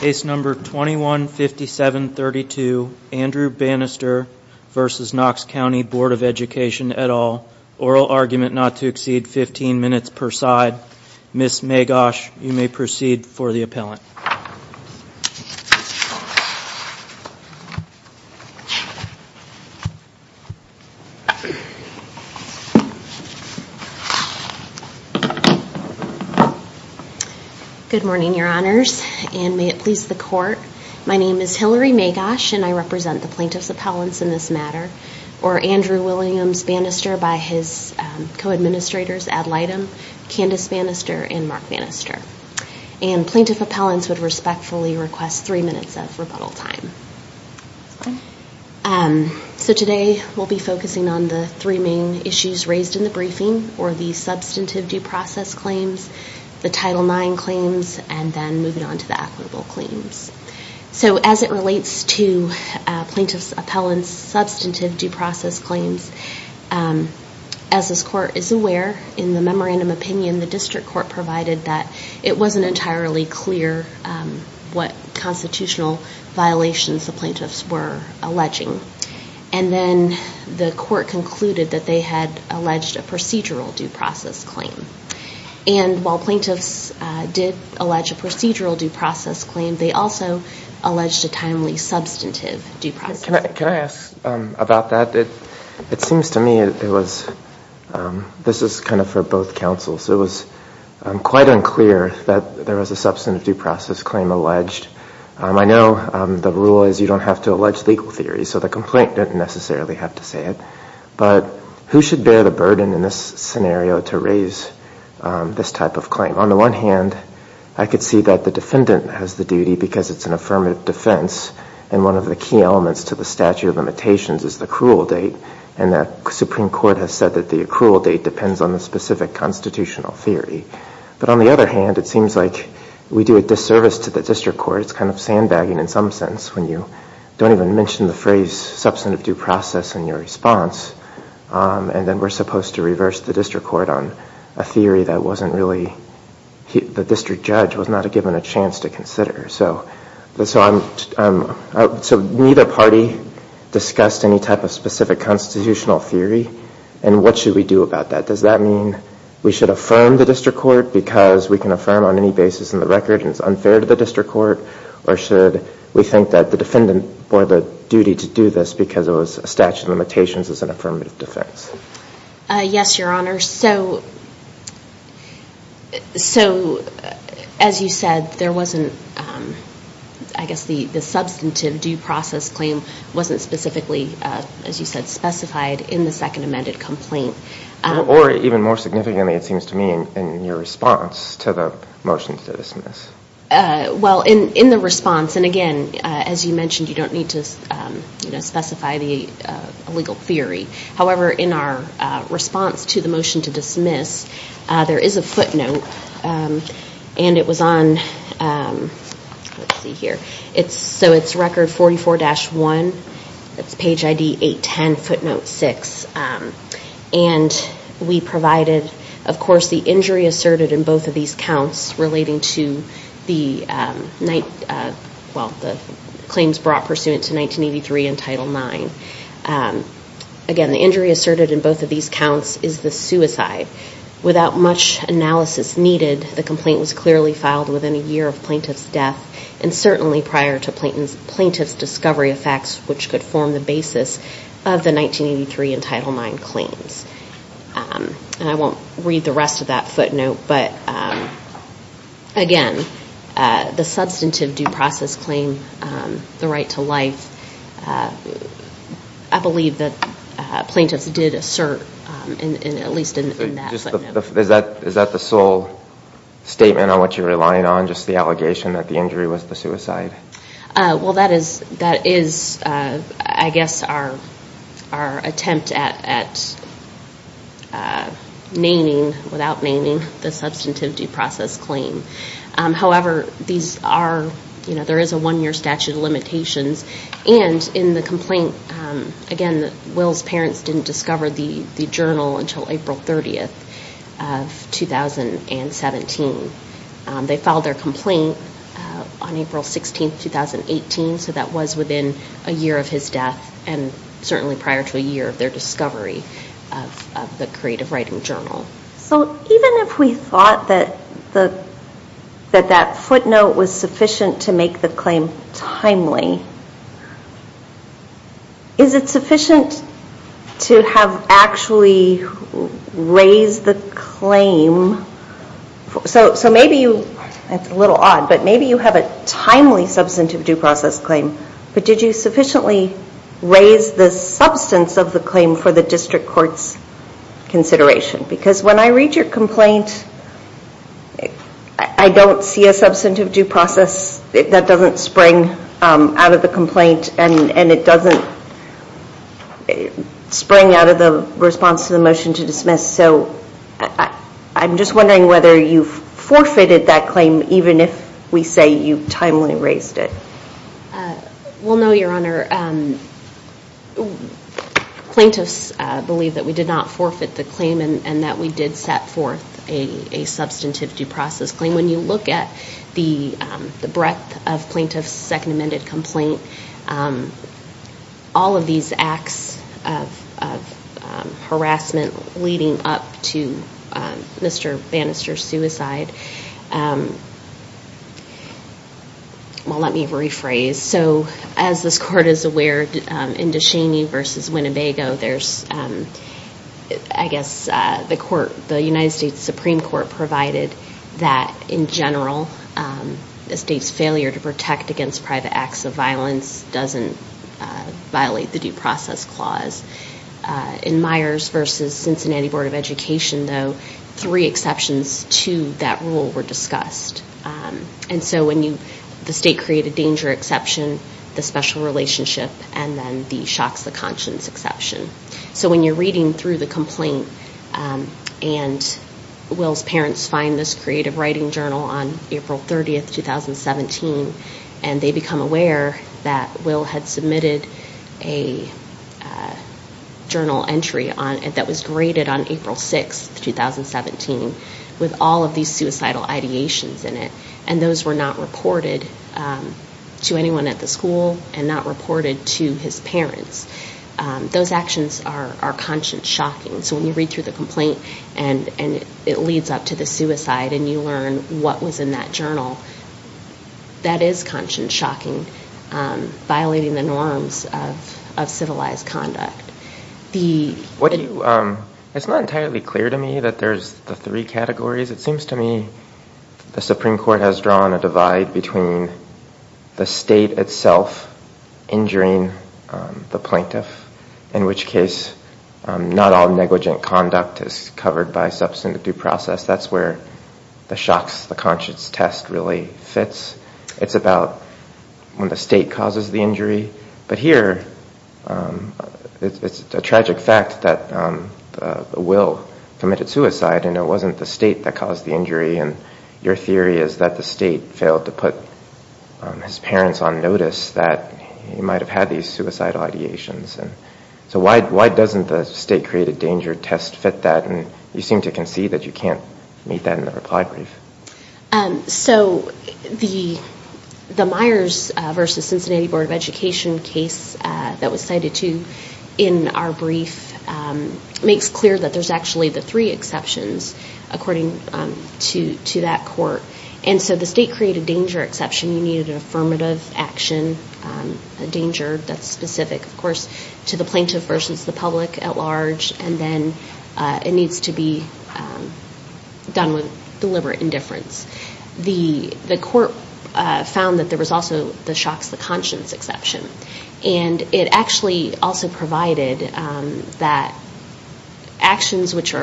Case number 21-5732 Andrew Bannister v. Knox County Board of Education et al. Oral argument not to exceed 15 minutes per side. Ms. Magosh, you may proceed for the appellant. Good morning, your honors, and may it please the court. My name is Hillary Magosh and I represent the plaintiff's appellants in this matter. Or Andrew Williams Bannister by his co-administrators Ad Lightem, Candace Bannister, and Mark Bannister. And plaintiff appellants would respectfully request three minutes of rebuttal time. So today we'll be focusing on the three main issues raised in the briefing, or the substantive due process claims, the Title IX claims, and then moving on to the equitable claims. So as it relates to plaintiff's appellant's substantive due process claims, as this court is aware, in the memorandum opinion, the district court provided that it wasn't entirely clear what constitutional violations the plaintiffs were alleging. And then the court concluded that they had alleged a procedural due process claim. And while plaintiffs did allege a procedural due process claim, they also alleged a timely substantive due process claim. Can I ask about that? It seems to me it was, this is kind of for both counsels, it was quite unclear that there was a substantive due process claim alleged. I know the rule is you don't have to allege legal theory, so the complaint didn't necessarily have to say it. But who should bear the burden in this scenario to raise this type of claim? On the one hand, I could see that the defendant has the duty because it's an affirmative defense, and one of the key elements to the statute of limitations is the accrual date, and that Supreme Court has said that the accrual date depends on the specific constitutional theory. But on the other hand, it seems like we do a disservice to the district court, it's kind of sandbagging in some sense, when you don't even mention the phrase substantive due process in your response, and then we're supposed to reverse the district court on a theory that wasn't really, the district judge was not given a chance to consider. So neither party discussed any type of specific constitutional theory, and what should we do about that? Does that mean we should affirm the district court because we can affirm on any basis in the record and it's unfair to the district court, or should we think that the defendant bore the duty to do this because it was a statute of limitations as an affirmative defense? Yes, your honor. So, as you said, there wasn't, I guess the substantive due process claim wasn't specifically, as you said, specified in the second amended complaint. Or even more significantly, it seems to me, in your response to the motion to dismiss. Well, in the response, and again, as you mentioned, you don't need to specify the legal theory. However, in our response to the motion to dismiss, there is a footnote, and it was on, let's see here, so it's record 44-1, that's page ID 810, footnote 6, and we provided, of course, the injury asserted in both of these counts relating to the claims brought pursuant to 1983 and Title IX. Again, the injury asserted in both of these counts is the suicide. Without much analysis needed, the complaint was clearly filed within a year of plaintiff's death, and certainly prior to plaintiff's discovery of facts which could form the basis of the 1983 and Title IX claims. And I won't read the rest of that footnote, but again, the substantive due process claim, the right to life, I believe that plaintiffs did assert, at least in that footnote. Is that the sole statement on which you're relying on, just the allegation that the injury was the suicide? Well, that is, I guess, our attempt at naming, without naming, the suicide. However, there is a one-year statute of limitations, and in the complaint, again, Will's parents didn't discover the journal until April 30th of 2017. They filed their complaint on April 16th, 2018, so that was within a year of his death, and certainly prior to a year of their discovery of the creative writing journal. So even if we thought that that footnote was sufficient to make the claim timely, is it sufficient to have actually raised the claim? So maybe you, it's a little odd, but maybe you have a timely substantive due process claim, but did you sufficiently raise the claim? Because when I read your complaint, I don't see a substantive due process that doesn't spring out of the complaint, and it doesn't spring out of the response to the motion to dismiss, so I'm just wondering whether you've forfeited that claim, even if we say you've timely raised it. Well, no, Your Honor. Plaintiffs believe that we did not forfeit the claim, and that we did set forth a substantive due process claim. When you look at the breadth of plaintiffs' second amended complaint, all of these acts of harassment leading up to Mr. Bannister's suicide, well, let me rephrase. So as this Court is aware, in Descheny v. Winnebago, there's, I guess, the court, the United States Supreme Court provided that in general, a state's failure to protect against private acts of violence doesn't violate the due process clause. In Myers v. Cincinnati Board of Education, though, three exceptions to that rule were discussed. And so when you, the state created danger exception, the special relationship, and then the shocks of conscience exception. So when you're reading through the complaint, and Will's parents find this creative writing journal on April 30, 2017, and they become aware that Will had submitted a journal entry on it that was graded on April 6, 2017, with all of these suicidal ideations in it, and those were not reported to anyone at the school and not reported to his parents, those actions are conscience shocking. So when you read through the complaint and it leads up to the suicide and you learn what was in that journal, that is conscience shocking, violating the norms of civilized conduct. It's not entirely clear to me that there's the three categories. It seems to me the Supreme Court has drawn a divide between the state itself injuring the plaintiff, in which case not all negligent conduct is covered by substantive due process. That's where the shocks, the conscience test really fits. It's about when the state causes the injury. But here, it's a tragic fact that Will committed suicide and it wasn't the state that caused the injury. Your theory is that the state failed to put his parents on notice that he might have had these suicidal ideations. So why doesn't the state created danger test fit that? You seem to concede that you can't meet that in the reply brief. So the Myers versus Cincinnati Board of Education case that was cited too in our brief makes clear that there's actually the three exceptions according to that court. And so the state created danger exception, you needed an affirmative action, a danger that's specific, of course, to the plaintiff versus the public at large and then it needs to be done with deliberate indifference. The court found that there was also the shocks, the conscience exception. And it actually also provided that actions which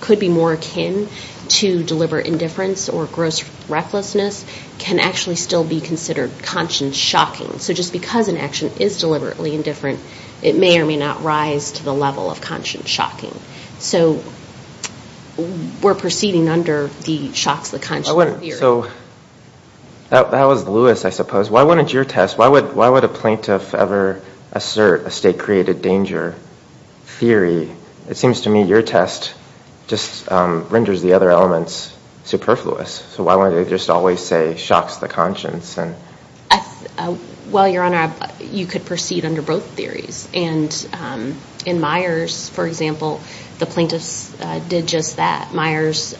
could be more akin to deliberate indifference or gross recklessness can actually still be considered conscience shocking. So just because an action is deliberately indifferent, it may or may not rise to the level of conscience shocking. So we're proceeding under the shocks, the conscience theory. So that was Lewis, I suppose. Why wouldn't your test, why would a plaintiff ever assert a state created danger theory? It seems to me your test just renders the other elements superfluous. So why would they just always say shocks the conscience? Well Your Honor, you could proceed under both theories. And in Myers, for example, the plaintiffs did just that. Myers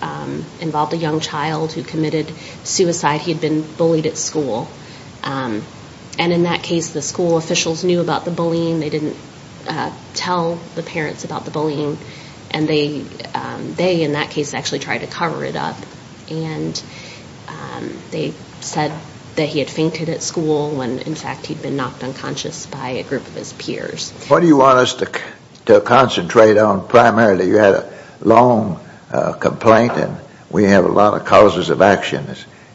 involved a young child who committed suicide. He had been bullied at school. And in that case, the school officials knew about the bullying. They didn't tell the parents about the bullying. And they in that case actually tried to cover it up. And they said that he had fainted at school when, in fact, he'd been knocked unconscious by a group of his peers. What do you want us to concentrate on primarily? You had a long complaint, and we have a lot of causes of action.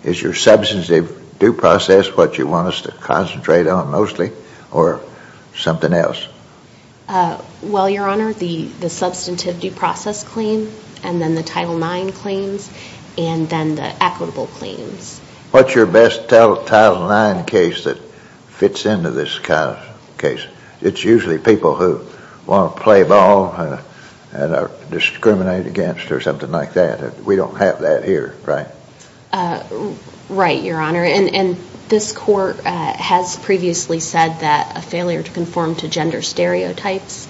Is your substantive due process what you want us to concentrate on mostly or something else? Well, Your Honor, the substantive due process claim, and then the Title IX claims, and then the equitable claims. What's your best Title IX case that fits into this case? It's usually people who want to play ball and are discriminated against or something like that. We don't have that here, right? Right, Your Honor. And this Court has previously said that a failure to conform to gender stereotypes,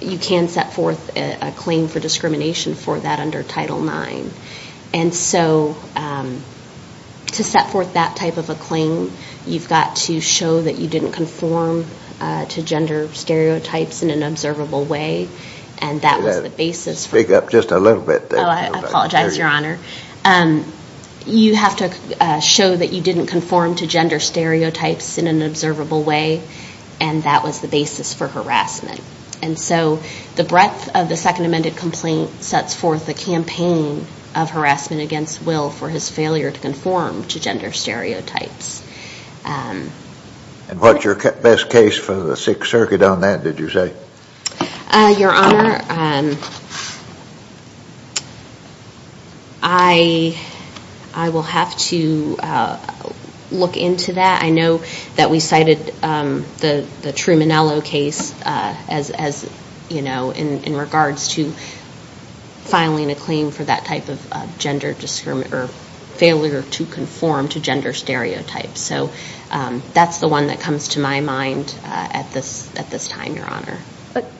you can set forth a claim for discrimination for that under Title IX. And so to set forth that type of a claim, you've got to show that you didn't conform to gender stereotypes in an observable way. And that was the basis for... Speak up just a little bit there. Oh, I apologize, Your Honor. You have to show that you didn't conform to gender stereotypes in an observable way, and that was the basis for harassment. And so the breadth of the Second Amended Complaint sets forth a campaign of harassment against Will for his failure to conform to gender stereotypes. And what's your best case for the Sixth Circuit on that, did you say? Your Honor, I will have to look into that. I know that we cited the Trumanello case in regards to filing a claim for that type of failure to conform to gender stereotypes. So that's the one that comes to my mind at this time, Your Honor.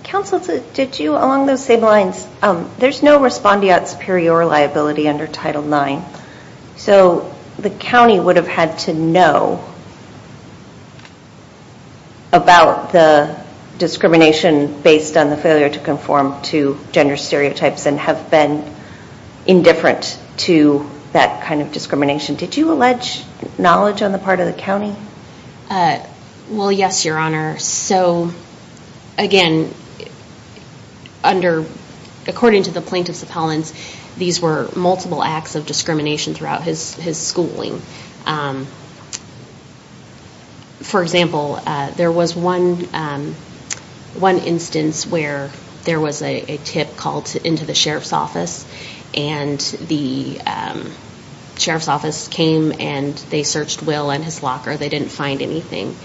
Counsel, did you, along those same lines, there's no respondeat superior liability under Title IX. So the county would have had to know about the discrimination based on the failure to conform to gender stereotypes and have been indifferent to that kind of discrimination. Did you allege knowledge on the part of the county? Well, yes, Your Honor. So again, under... According to the Plaintiffs Appellants, these were multiple acts of discrimination throughout his schooling. For example, there was one instance where there was a tip called into the Sheriff's Office and the Sheriff's Office came and they searched Will and his locker. They didn't find anything.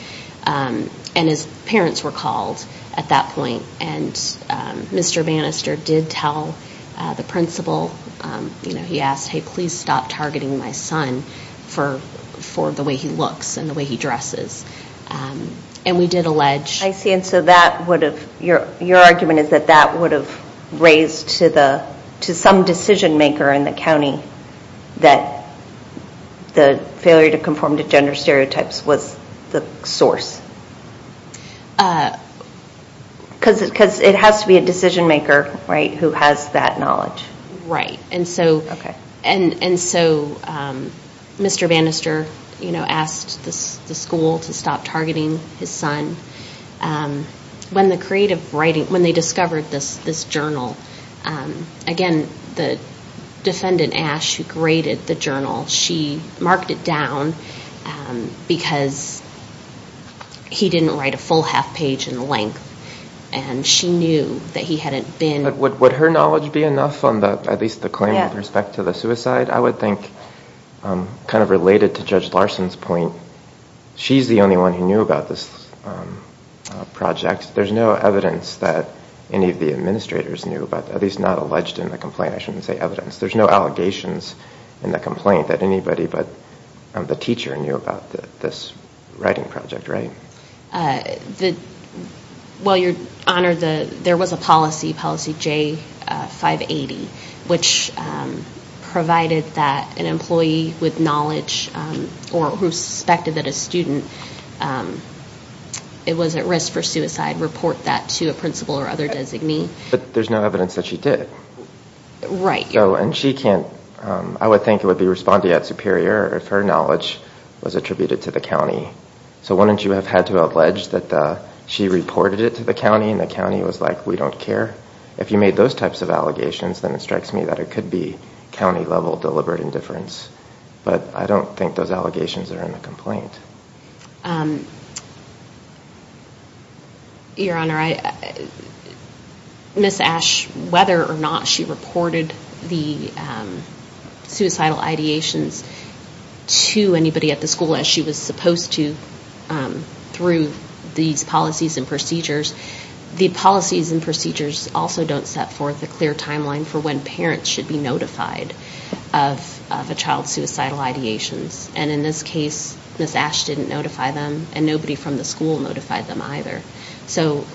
And his parents were called at that point. And Mr. Bannister did tell the principal, he asked, hey, please stop targeting my son for the way he looks and the way he dresses. And we did allege... Is that that would have raised to some decision maker in the county that the failure to conform to gender stereotypes was the source? Because it has to be a decision maker, right, who has that knowledge. Right. And so Mr. Bannister asked the school to stop targeting his son. When the creative writing... When they discovered this journal, again, the defendant, Ash, who graded the journal, she marked it down because he didn't write a full half page in length and she knew that he hadn't been... Would her knowledge be enough on at least the claim with respect to the suicide? I would think kind of related to Judge Larson's point, she's the only one who knew about this project. There's no evidence that any of the administrators knew about, at least not alleged in the complaint. I shouldn't say evidence. There's no allegations in the complaint that anybody but the teacher knew about this writing project, right? Well, Your Honor, there was a policy, policy J580, which provided that an employee with a disability could report that to a principal or other designee. But there's no evidence that she did. Right. And she can't... I would think it would be respondeat superior if her knowledge was attributed to the county. So wouldn't you have had to allege that she reported it to the county and the county was like, we don't care? If you made those types of allegations, then it strikes me that it could be county level deliberate indifference. But I don't think those allegations are in the complaint. Your Honor, Ms. Ash, whether or not she reported the suicidal ideations to anybody at the school as she was supposed to through these policies and procedures, the policies and procedures also don't set forth a clear timeline for when parents should be notified of a child's suicidal ideations. And in this case, Ms. Ash didn't notify them and nobody from the school notified them either. So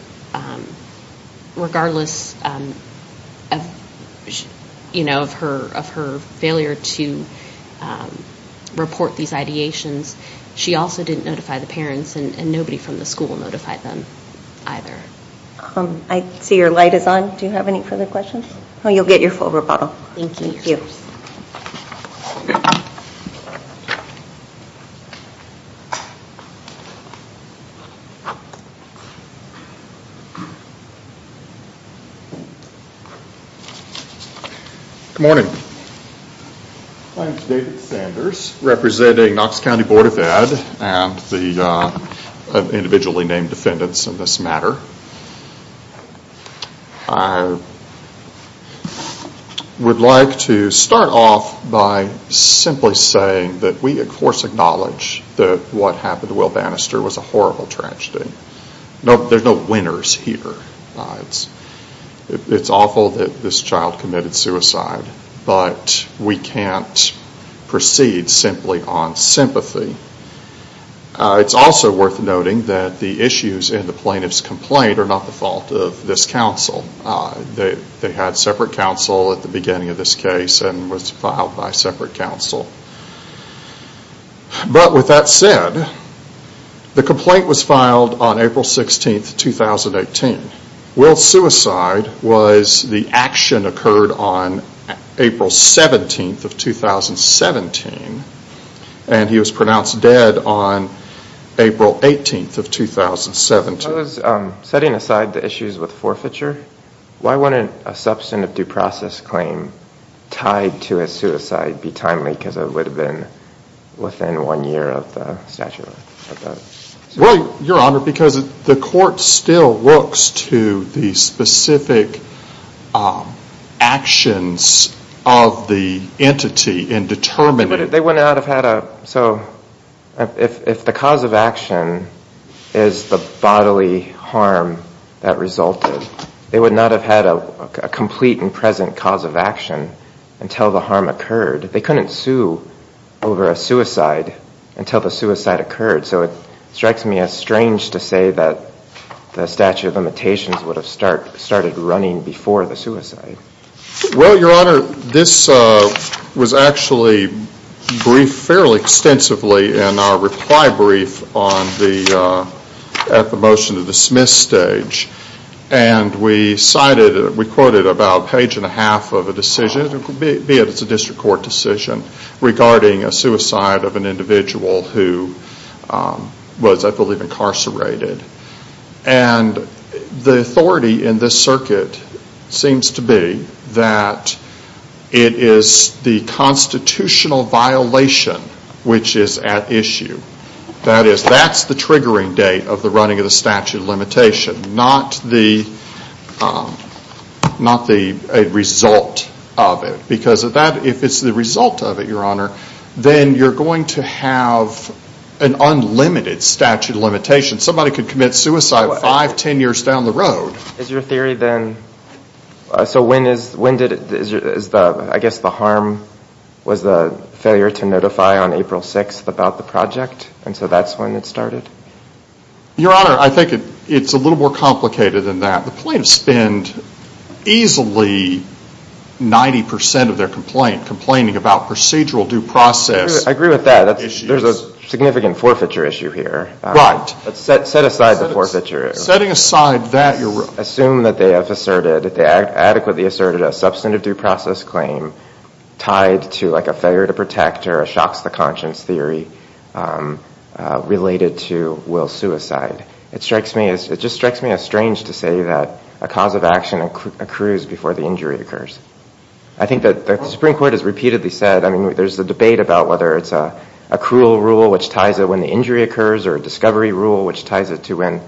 regardless of her failure to report these ideations, she also didn't notify the parents and nobody from the school notified them either. I see your light is on. Do you have any further questions? Oh, you'll get your full rebuttal. Good morning. My name is David Sanders, representing Knox County Board of Ed and the individually named defendants in this matter. I would like to start off by simplifying this case a little bit. I'm simply saying that we of course acknowledge that what happened to Will Bannister was a horrible tragedy. There are no winners here. It's awful that this child committed suicide, but we can't proceed simply on sympathy. It's also worth noting that the issues in the plaintiff's complaint are not the fault of this counsel. They had separate counsel at the beginning of this case and was filed by separate counsel. But with that said, the complaint was filed on April 16th, 2018. Will's suicide was the action occurred on April 17th of 2017 and he was pronounced dead on April 18th of 2017. Setting aside the issues with forfeiture, why wouldn't a substantive due process claim tied to a suicide be timely because it would have been within one year of the statute? Your Honor, because the court still looks to the specific actions of the entity in determining the cause of action. If the cause of action is the bodily harm that resulted, they would not have had a complete and present cause of action until the harm occurred. They couldn't sue over a suicide until the suicide occurred. So it strikes me as strange to say that the statute of limitations would have started running before the suicide. Well, Your Honor, this was actually briefed fairly extensively in our reply brief at the motion to dismiss stage. And we cited, we quoted about a page and a half of a decision, be it it's a district court decision, regarding a suicide of an individual who was, I believe, incarcerated. And the authority in this circuit seems to be that it is the constitutional violation which is at issue. That is, that's the triggering date of the running of the statute of limitation, not the result of it. Because if it's the result of it, Your Honor, then you're going to have an unlimited statute of limitation. Somebody could commit suicide five, ten years down the road. Is your theory then, so when did, I guess the harm was the failure to notify on April 6th about the project? And so that's when it started? Your Honor, I think it's a little more complicated than that. The plaintiffs spend easily 90% of their complaint complaining about procedural due process issues. I agree with that. There's a significant forfeiture issue here. Right. But set aside the forfeiture issue. Setting aside that, Your Honor. Assume that they have asserted, they adequately asserted a substantive due process claim tied to like a failure to protect or a shocks to conscience theory related to Will's suicide. It strikes me as, it just strikes me as strange to say that a cause of action accrues before the injury occurs. I think that the Supreme Court has repeatedly said, I mean, there's a debate about whether it's a cruel rule which ties it when the injury occurs or a discovery rule which ties it to when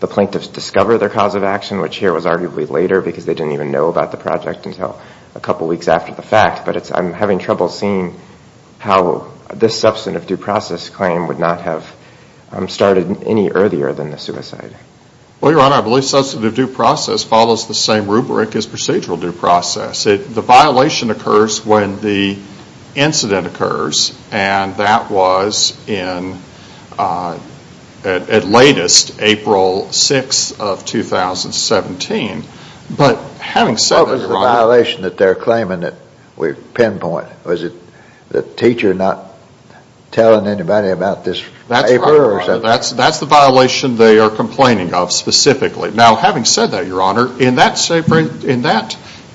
the plaintiffs discover their cause of action, which here was arguably later because they didn't even know about the project until a couple weeks after the fact. But I'm having trouble seeing how this substantive due process claim would not have started any earlier than the suicide. Well, Your Honor, I believe substantive due process follows the same rubric as procedural due process. The violation occurs when the incident occurs and that was in, at latest, April 6th of 2017. But having said that, Your Honor. What was the violation that they're claiming that we pinpoint? Was it the teacher not telling anybody about this paper or something? No, Your Honor. That's the violation they are complaining of specifically. Now, having said that, Your Honor, in that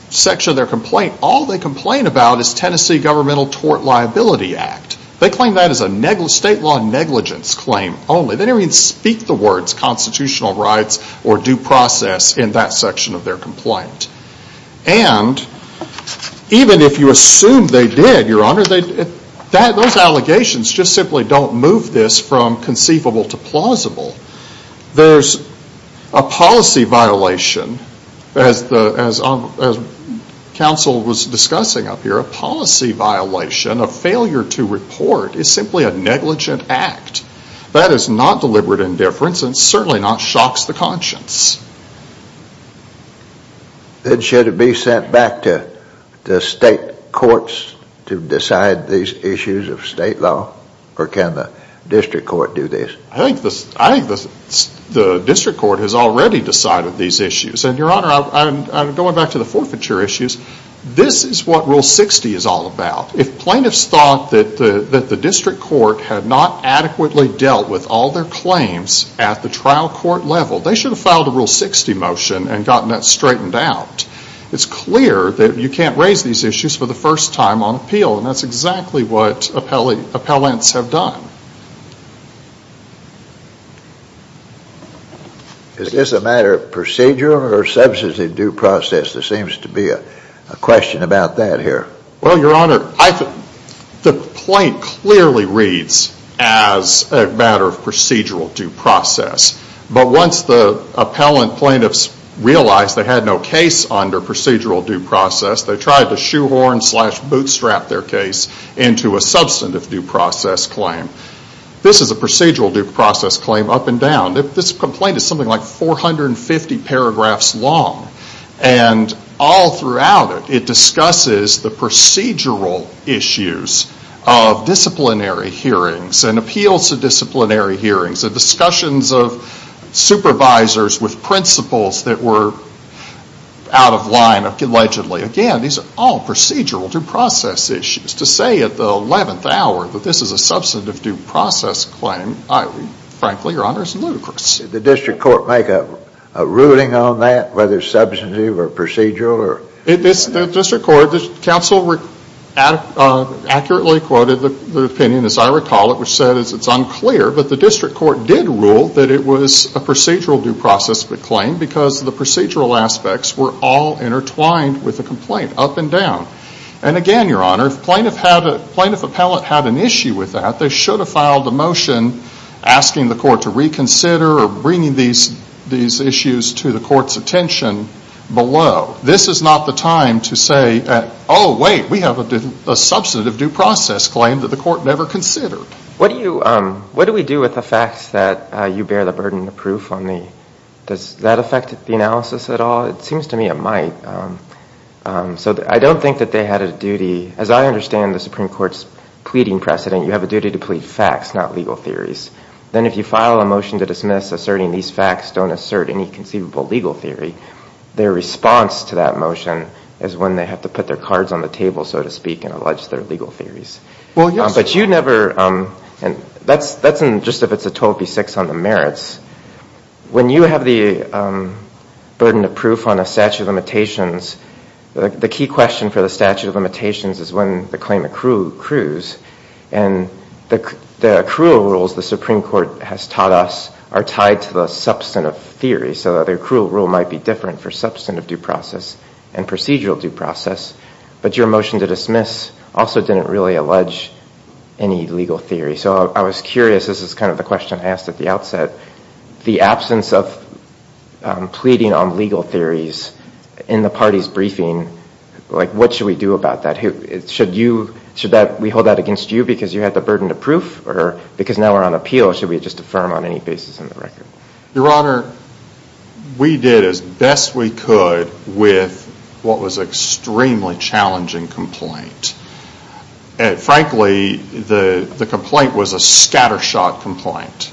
section of their complaint, all they complain about is Tennessee Governmental Tort Liability Act. They claim that as a state law negligence claim only. They didn't even speak the words constitutional rights or due process in that section of their complaint. And even if you assume they did, Your Honor, those allegations just simply don't move this from conceivable to plausible. There's a policy violation, as counsel was discussing up here, a policy violation, a failure to report, is simply a negligent act. That is not deliberate indifference and certainly not shocks the conscience. Then should it be sent back to the state courts to decide these issues of state law or can the district court do this? I think the district court has already decided these issues. And, Your Honor, going back to the forfeiture issues, this is what Rule 60 is all about. If plaintiffs thought that the district court had not adequately dealt with all their claims at the trial court level, they should have filed a Rule 60 motion and gotten that straightened out. It's clear that you can't raise these issues for the first time on appeal. And that's exactly what appellants have done. Is this a matter of procedural or substantive due process? There seems to be a question about that here. Well, Your Honor, the plaintiff clearly reads as a matter of procedural due process. But once the appellant plaintiffs realized they had no case under procedural due process, they tried to shoehorn slash bootstrap their case into a substantive due process claim. This is a procedural due process claim up and down. This complaint is something like 450 paragraphs long. And all throughout it, it discusses the procedural issues of disciplinary hearings, the discussions of supervisors with principles that were out of line allegedly. Again, these are all procedural due process issues. To say at the 11th hour that this is a substantive due process claim, frankly, Your Honor, is ludicrous. Did the district court make a ruling on that, whether substantive or procedural? District court, counsel accurately quoted the opinion, as I recall it, which said it's unclear. But the district court did rule that it was a procedural due process claim because the procedural aspects were all intertwined with the complaint up and down. And again, Your Honor, if plaintiff had a plaintiff appellate had an issue with that, they should have filed a motion asking the court to reconsider or bringing these issues to the court's attention below. This is not the time to say, oh, wait, we have a substantive due process claim that the court never considered. What do we do with the facts that you bear the burden of proof on? Does that affect the analysis at all? It seems to me it might. So I don't think that they had a duty. As I understand the Supreme Court's pleading precedent, you have a duty to plead facts, not legal theories. Then if you file a motion to dismiss asserting these facts don't assert any conceivable legal theory, their response to that motion is when they have to put their cards on the table, so to speak, and allege their legal theories. Well, yes. But you never, and that's just if it's a 12 v. 6 on the merits, when you have the burden of proof on a statute of limitations, the key question for the statute of limitations is when the claim accrues. And the accrual rules the Supreme Court has taught us are tied to the substantive theory. So the accrual rule might be different for substantive due any legal theory. So I was curious, this is kind of the question I asked at the outset, the absence of pleading on legal theories in the party's briefing, what should we do about that? Should we hold that against you because you had the burden of proof or because now we're on appeal, should we just affirm on any basis in the record? Your Honor, we did as best we could with what was an extremely challenging complaint. Frankly, the complaint was a scattershot complaint.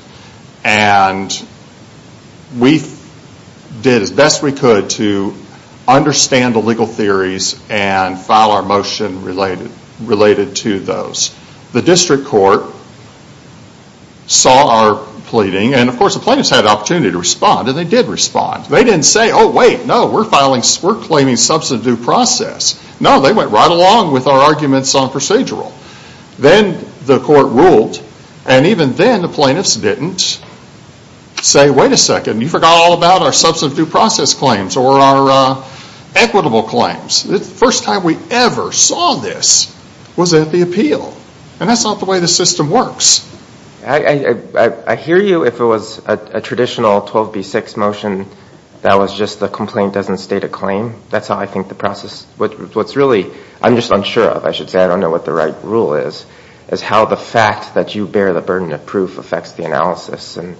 And we did as best we could to understand the legal theories and file our motion related to those. The district court saw our pleading, and of course the plaintiffs had the opportunity to respond, and they did respond. They didn't say, oh, wait, no, we're claiming substantive due process. No, they went right along with our arguments on procedural. Then the court ruled, and even then the plaintiffs didn't say, wait a second, you forgot all about our substantive due process claims or our equitable claims. The first time we ever saw this was at the appeal. And that's not the way the If it was a traditional 12B6 motion that was just the complaint doesn't state a claim, that's how I think the process, what's really, I'm just unsure of, I should say, I don't know what the right rule is, is how the fact that you bear the burden of proof affects the analysis and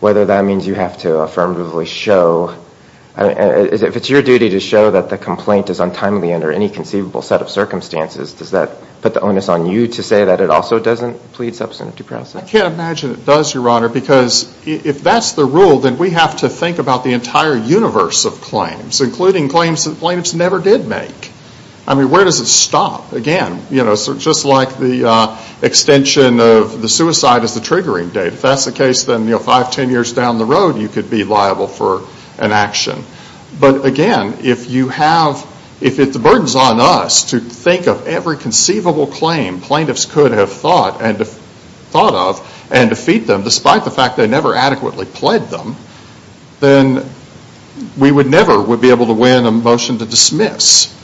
whether that means you have to affirmatively show, if it's your duty to show that the complaint is untimely under any conceivable set of circumstances, does that put the onus on you to say that it also doesn't plead substantive due process? I can't imagine it does, Your Honor, because if that's the rule, then we have to think about the entire universe of claims, including claims that plaintiffs never did make. I mean, where does it stop? Again, you know, just like the extension of the suicide as the triggering date, if that's the case, then five, ten years down the road you could be liable for an action. But again, if you have, if the burden's on us to think of every conceivable claim plaintiffs could have thought of and defeat them, despite the fact they never adequately pledged them, then we would never be able to win a motion to dismiss.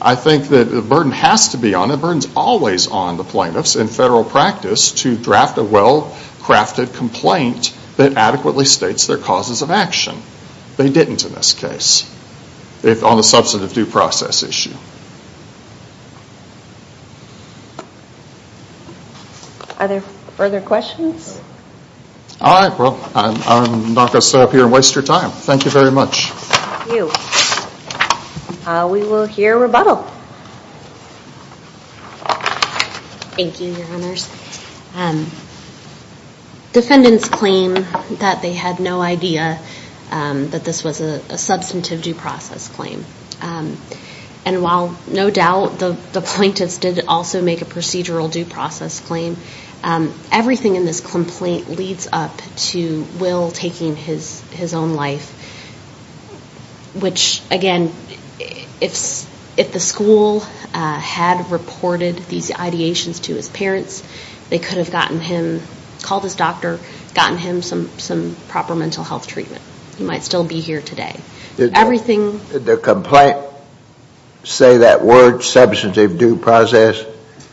I think that the burden has to be on, and the burden's always on the plaintiffs in federal practice to draft a well-crafted complaint that adequately states their causes of action. They didn't in this case, on the Are there further questions? All right, well, I'm not going to sit up here and waste your time. Thank you very much. Thank you. We will hear rebuttal. Thank you, Your Honors. Defendants claim that they had no idea that this was a substantive due process claim. And while no doubt the plaintiffs did also make a procedural due process claim, everything in this complaint leads up to Will taking his own life, which again, if the school had reported these ideations to his parents, they could have gotten him, called his doctor, gotten him some proper mental health treatment. He might still be here today. Everything Did the complaint say that word, substantive due process?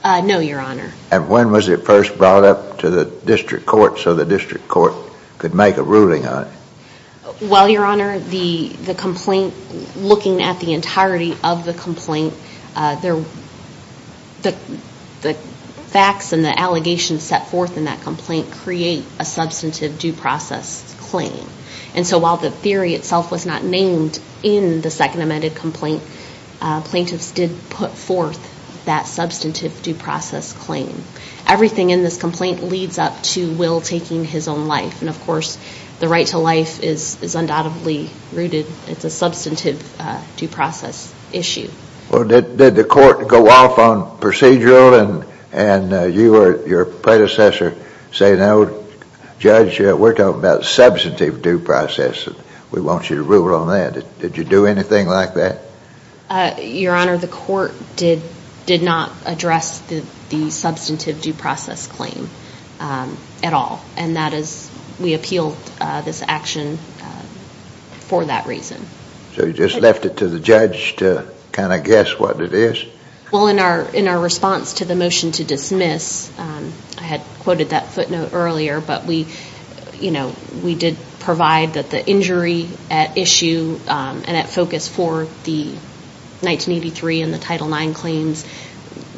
No, Your Honor. And when was it first brought up to the district court so the district court could make a ruling on it? Well, Your Honor, the complaint, looking at the entirety of the complaint, the facts and the allegations set forth in that complaint create a substantive due process claim. And so while the theory itself was not named in the second amended complaint, plaintiffs did put forth that substantive due process claim. Everything in this complaint leads up to Will taking his own life. And of course, the right to life is undoubtedly rooted. It's a substantive due process issue. Well, did the court go off on procedural and you or your predecessor say, no, judge, we're talking about substantive due process. We want you to rule on that. Did you do anything like that? Your Honor, the court did not address the substantive due process claim at all. And that is, we appealed this action for that reason. So you just left it to the judge to kind of guess what it is? Well, in our response to the motion to dismiss, I had quoted that footnote earlier, but we did provide that the injury at issue and at focus for the 1983 and the Title IX claims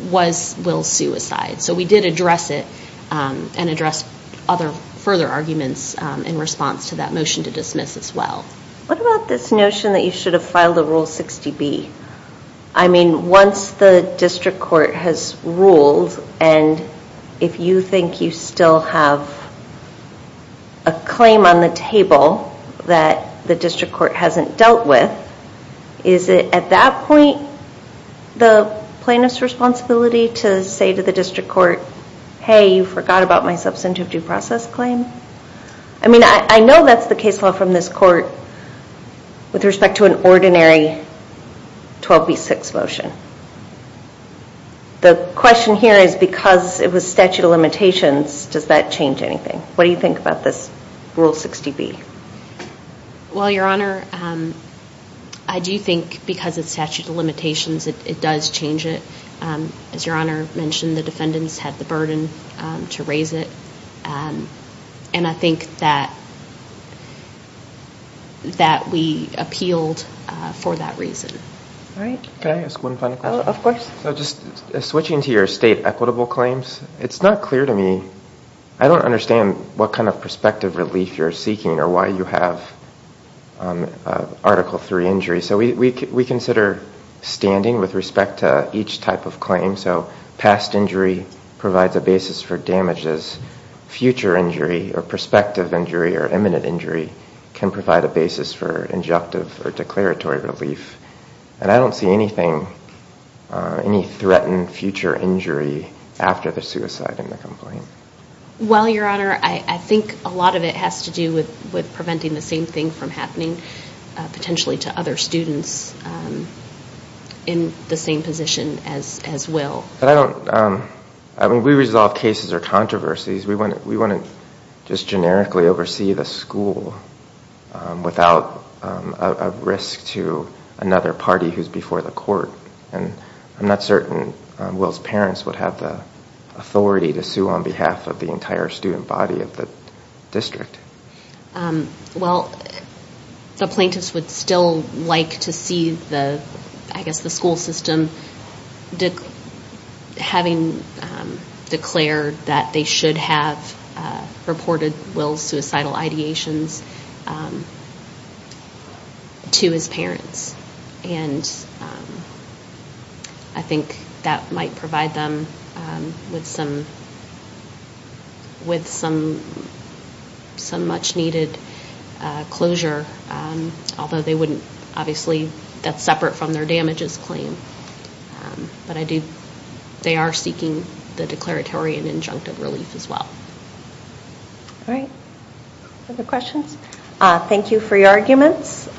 was Will's suicide. So we did address it and address other further arguments in response to that motion to dismiss as well. What about this notion that you should have filed a Rule 60B? I mean, once the district court has ruled and if you think you still have a claim on the table that the district court hasn't dealt with, is it at that point the plaintiff's responsibility to say to the district court, hey, you forgot about my substantive due process claim? I mean, I know that's the question here is because it was statute of limitations, does that change anything? What do you think about this Rule 60B? Well, Your Honor, I do think because it's statute of limitations, it does change it. As Your Honor mentioned, the defendants had the burden to raise it. And I think that we appealed for that reason. All right. Can I ask one final question? Of course. So just switching to your state equitable claims, it's not clear to me, I don't understand what kind of prospective relief you're seeking or why you have Article III injury. So we consider standing with respect to each type of claim. So past injury provides a basis for damages. Future injury or prospective injury or imminent injury can provide a basis for injunctive or declaratory relief. And I don't see anything, any threatened future injury after the suicide in the complaint. Well, Your Honor, I think a lot of it has to do with preventing the same thing from happening potentially to other students in the same position as Will. But I don't, I mean, we resolve cases or controversies. We want to just generically oversee the school without a risk to another party who's before the court. And I'm not certain Will's parents would have the authority to sue on behalf of the entire student body of the district. Well, the plaintiffs would still like to see the, I guess the school system having declared that they should have reported Will's suicidal ideations to his parents. And I think that might provide them with some much-needed closure, although they wouldn't, obviously, that's injunctive relief as well. All right. Other questions? Thank you for your arguments.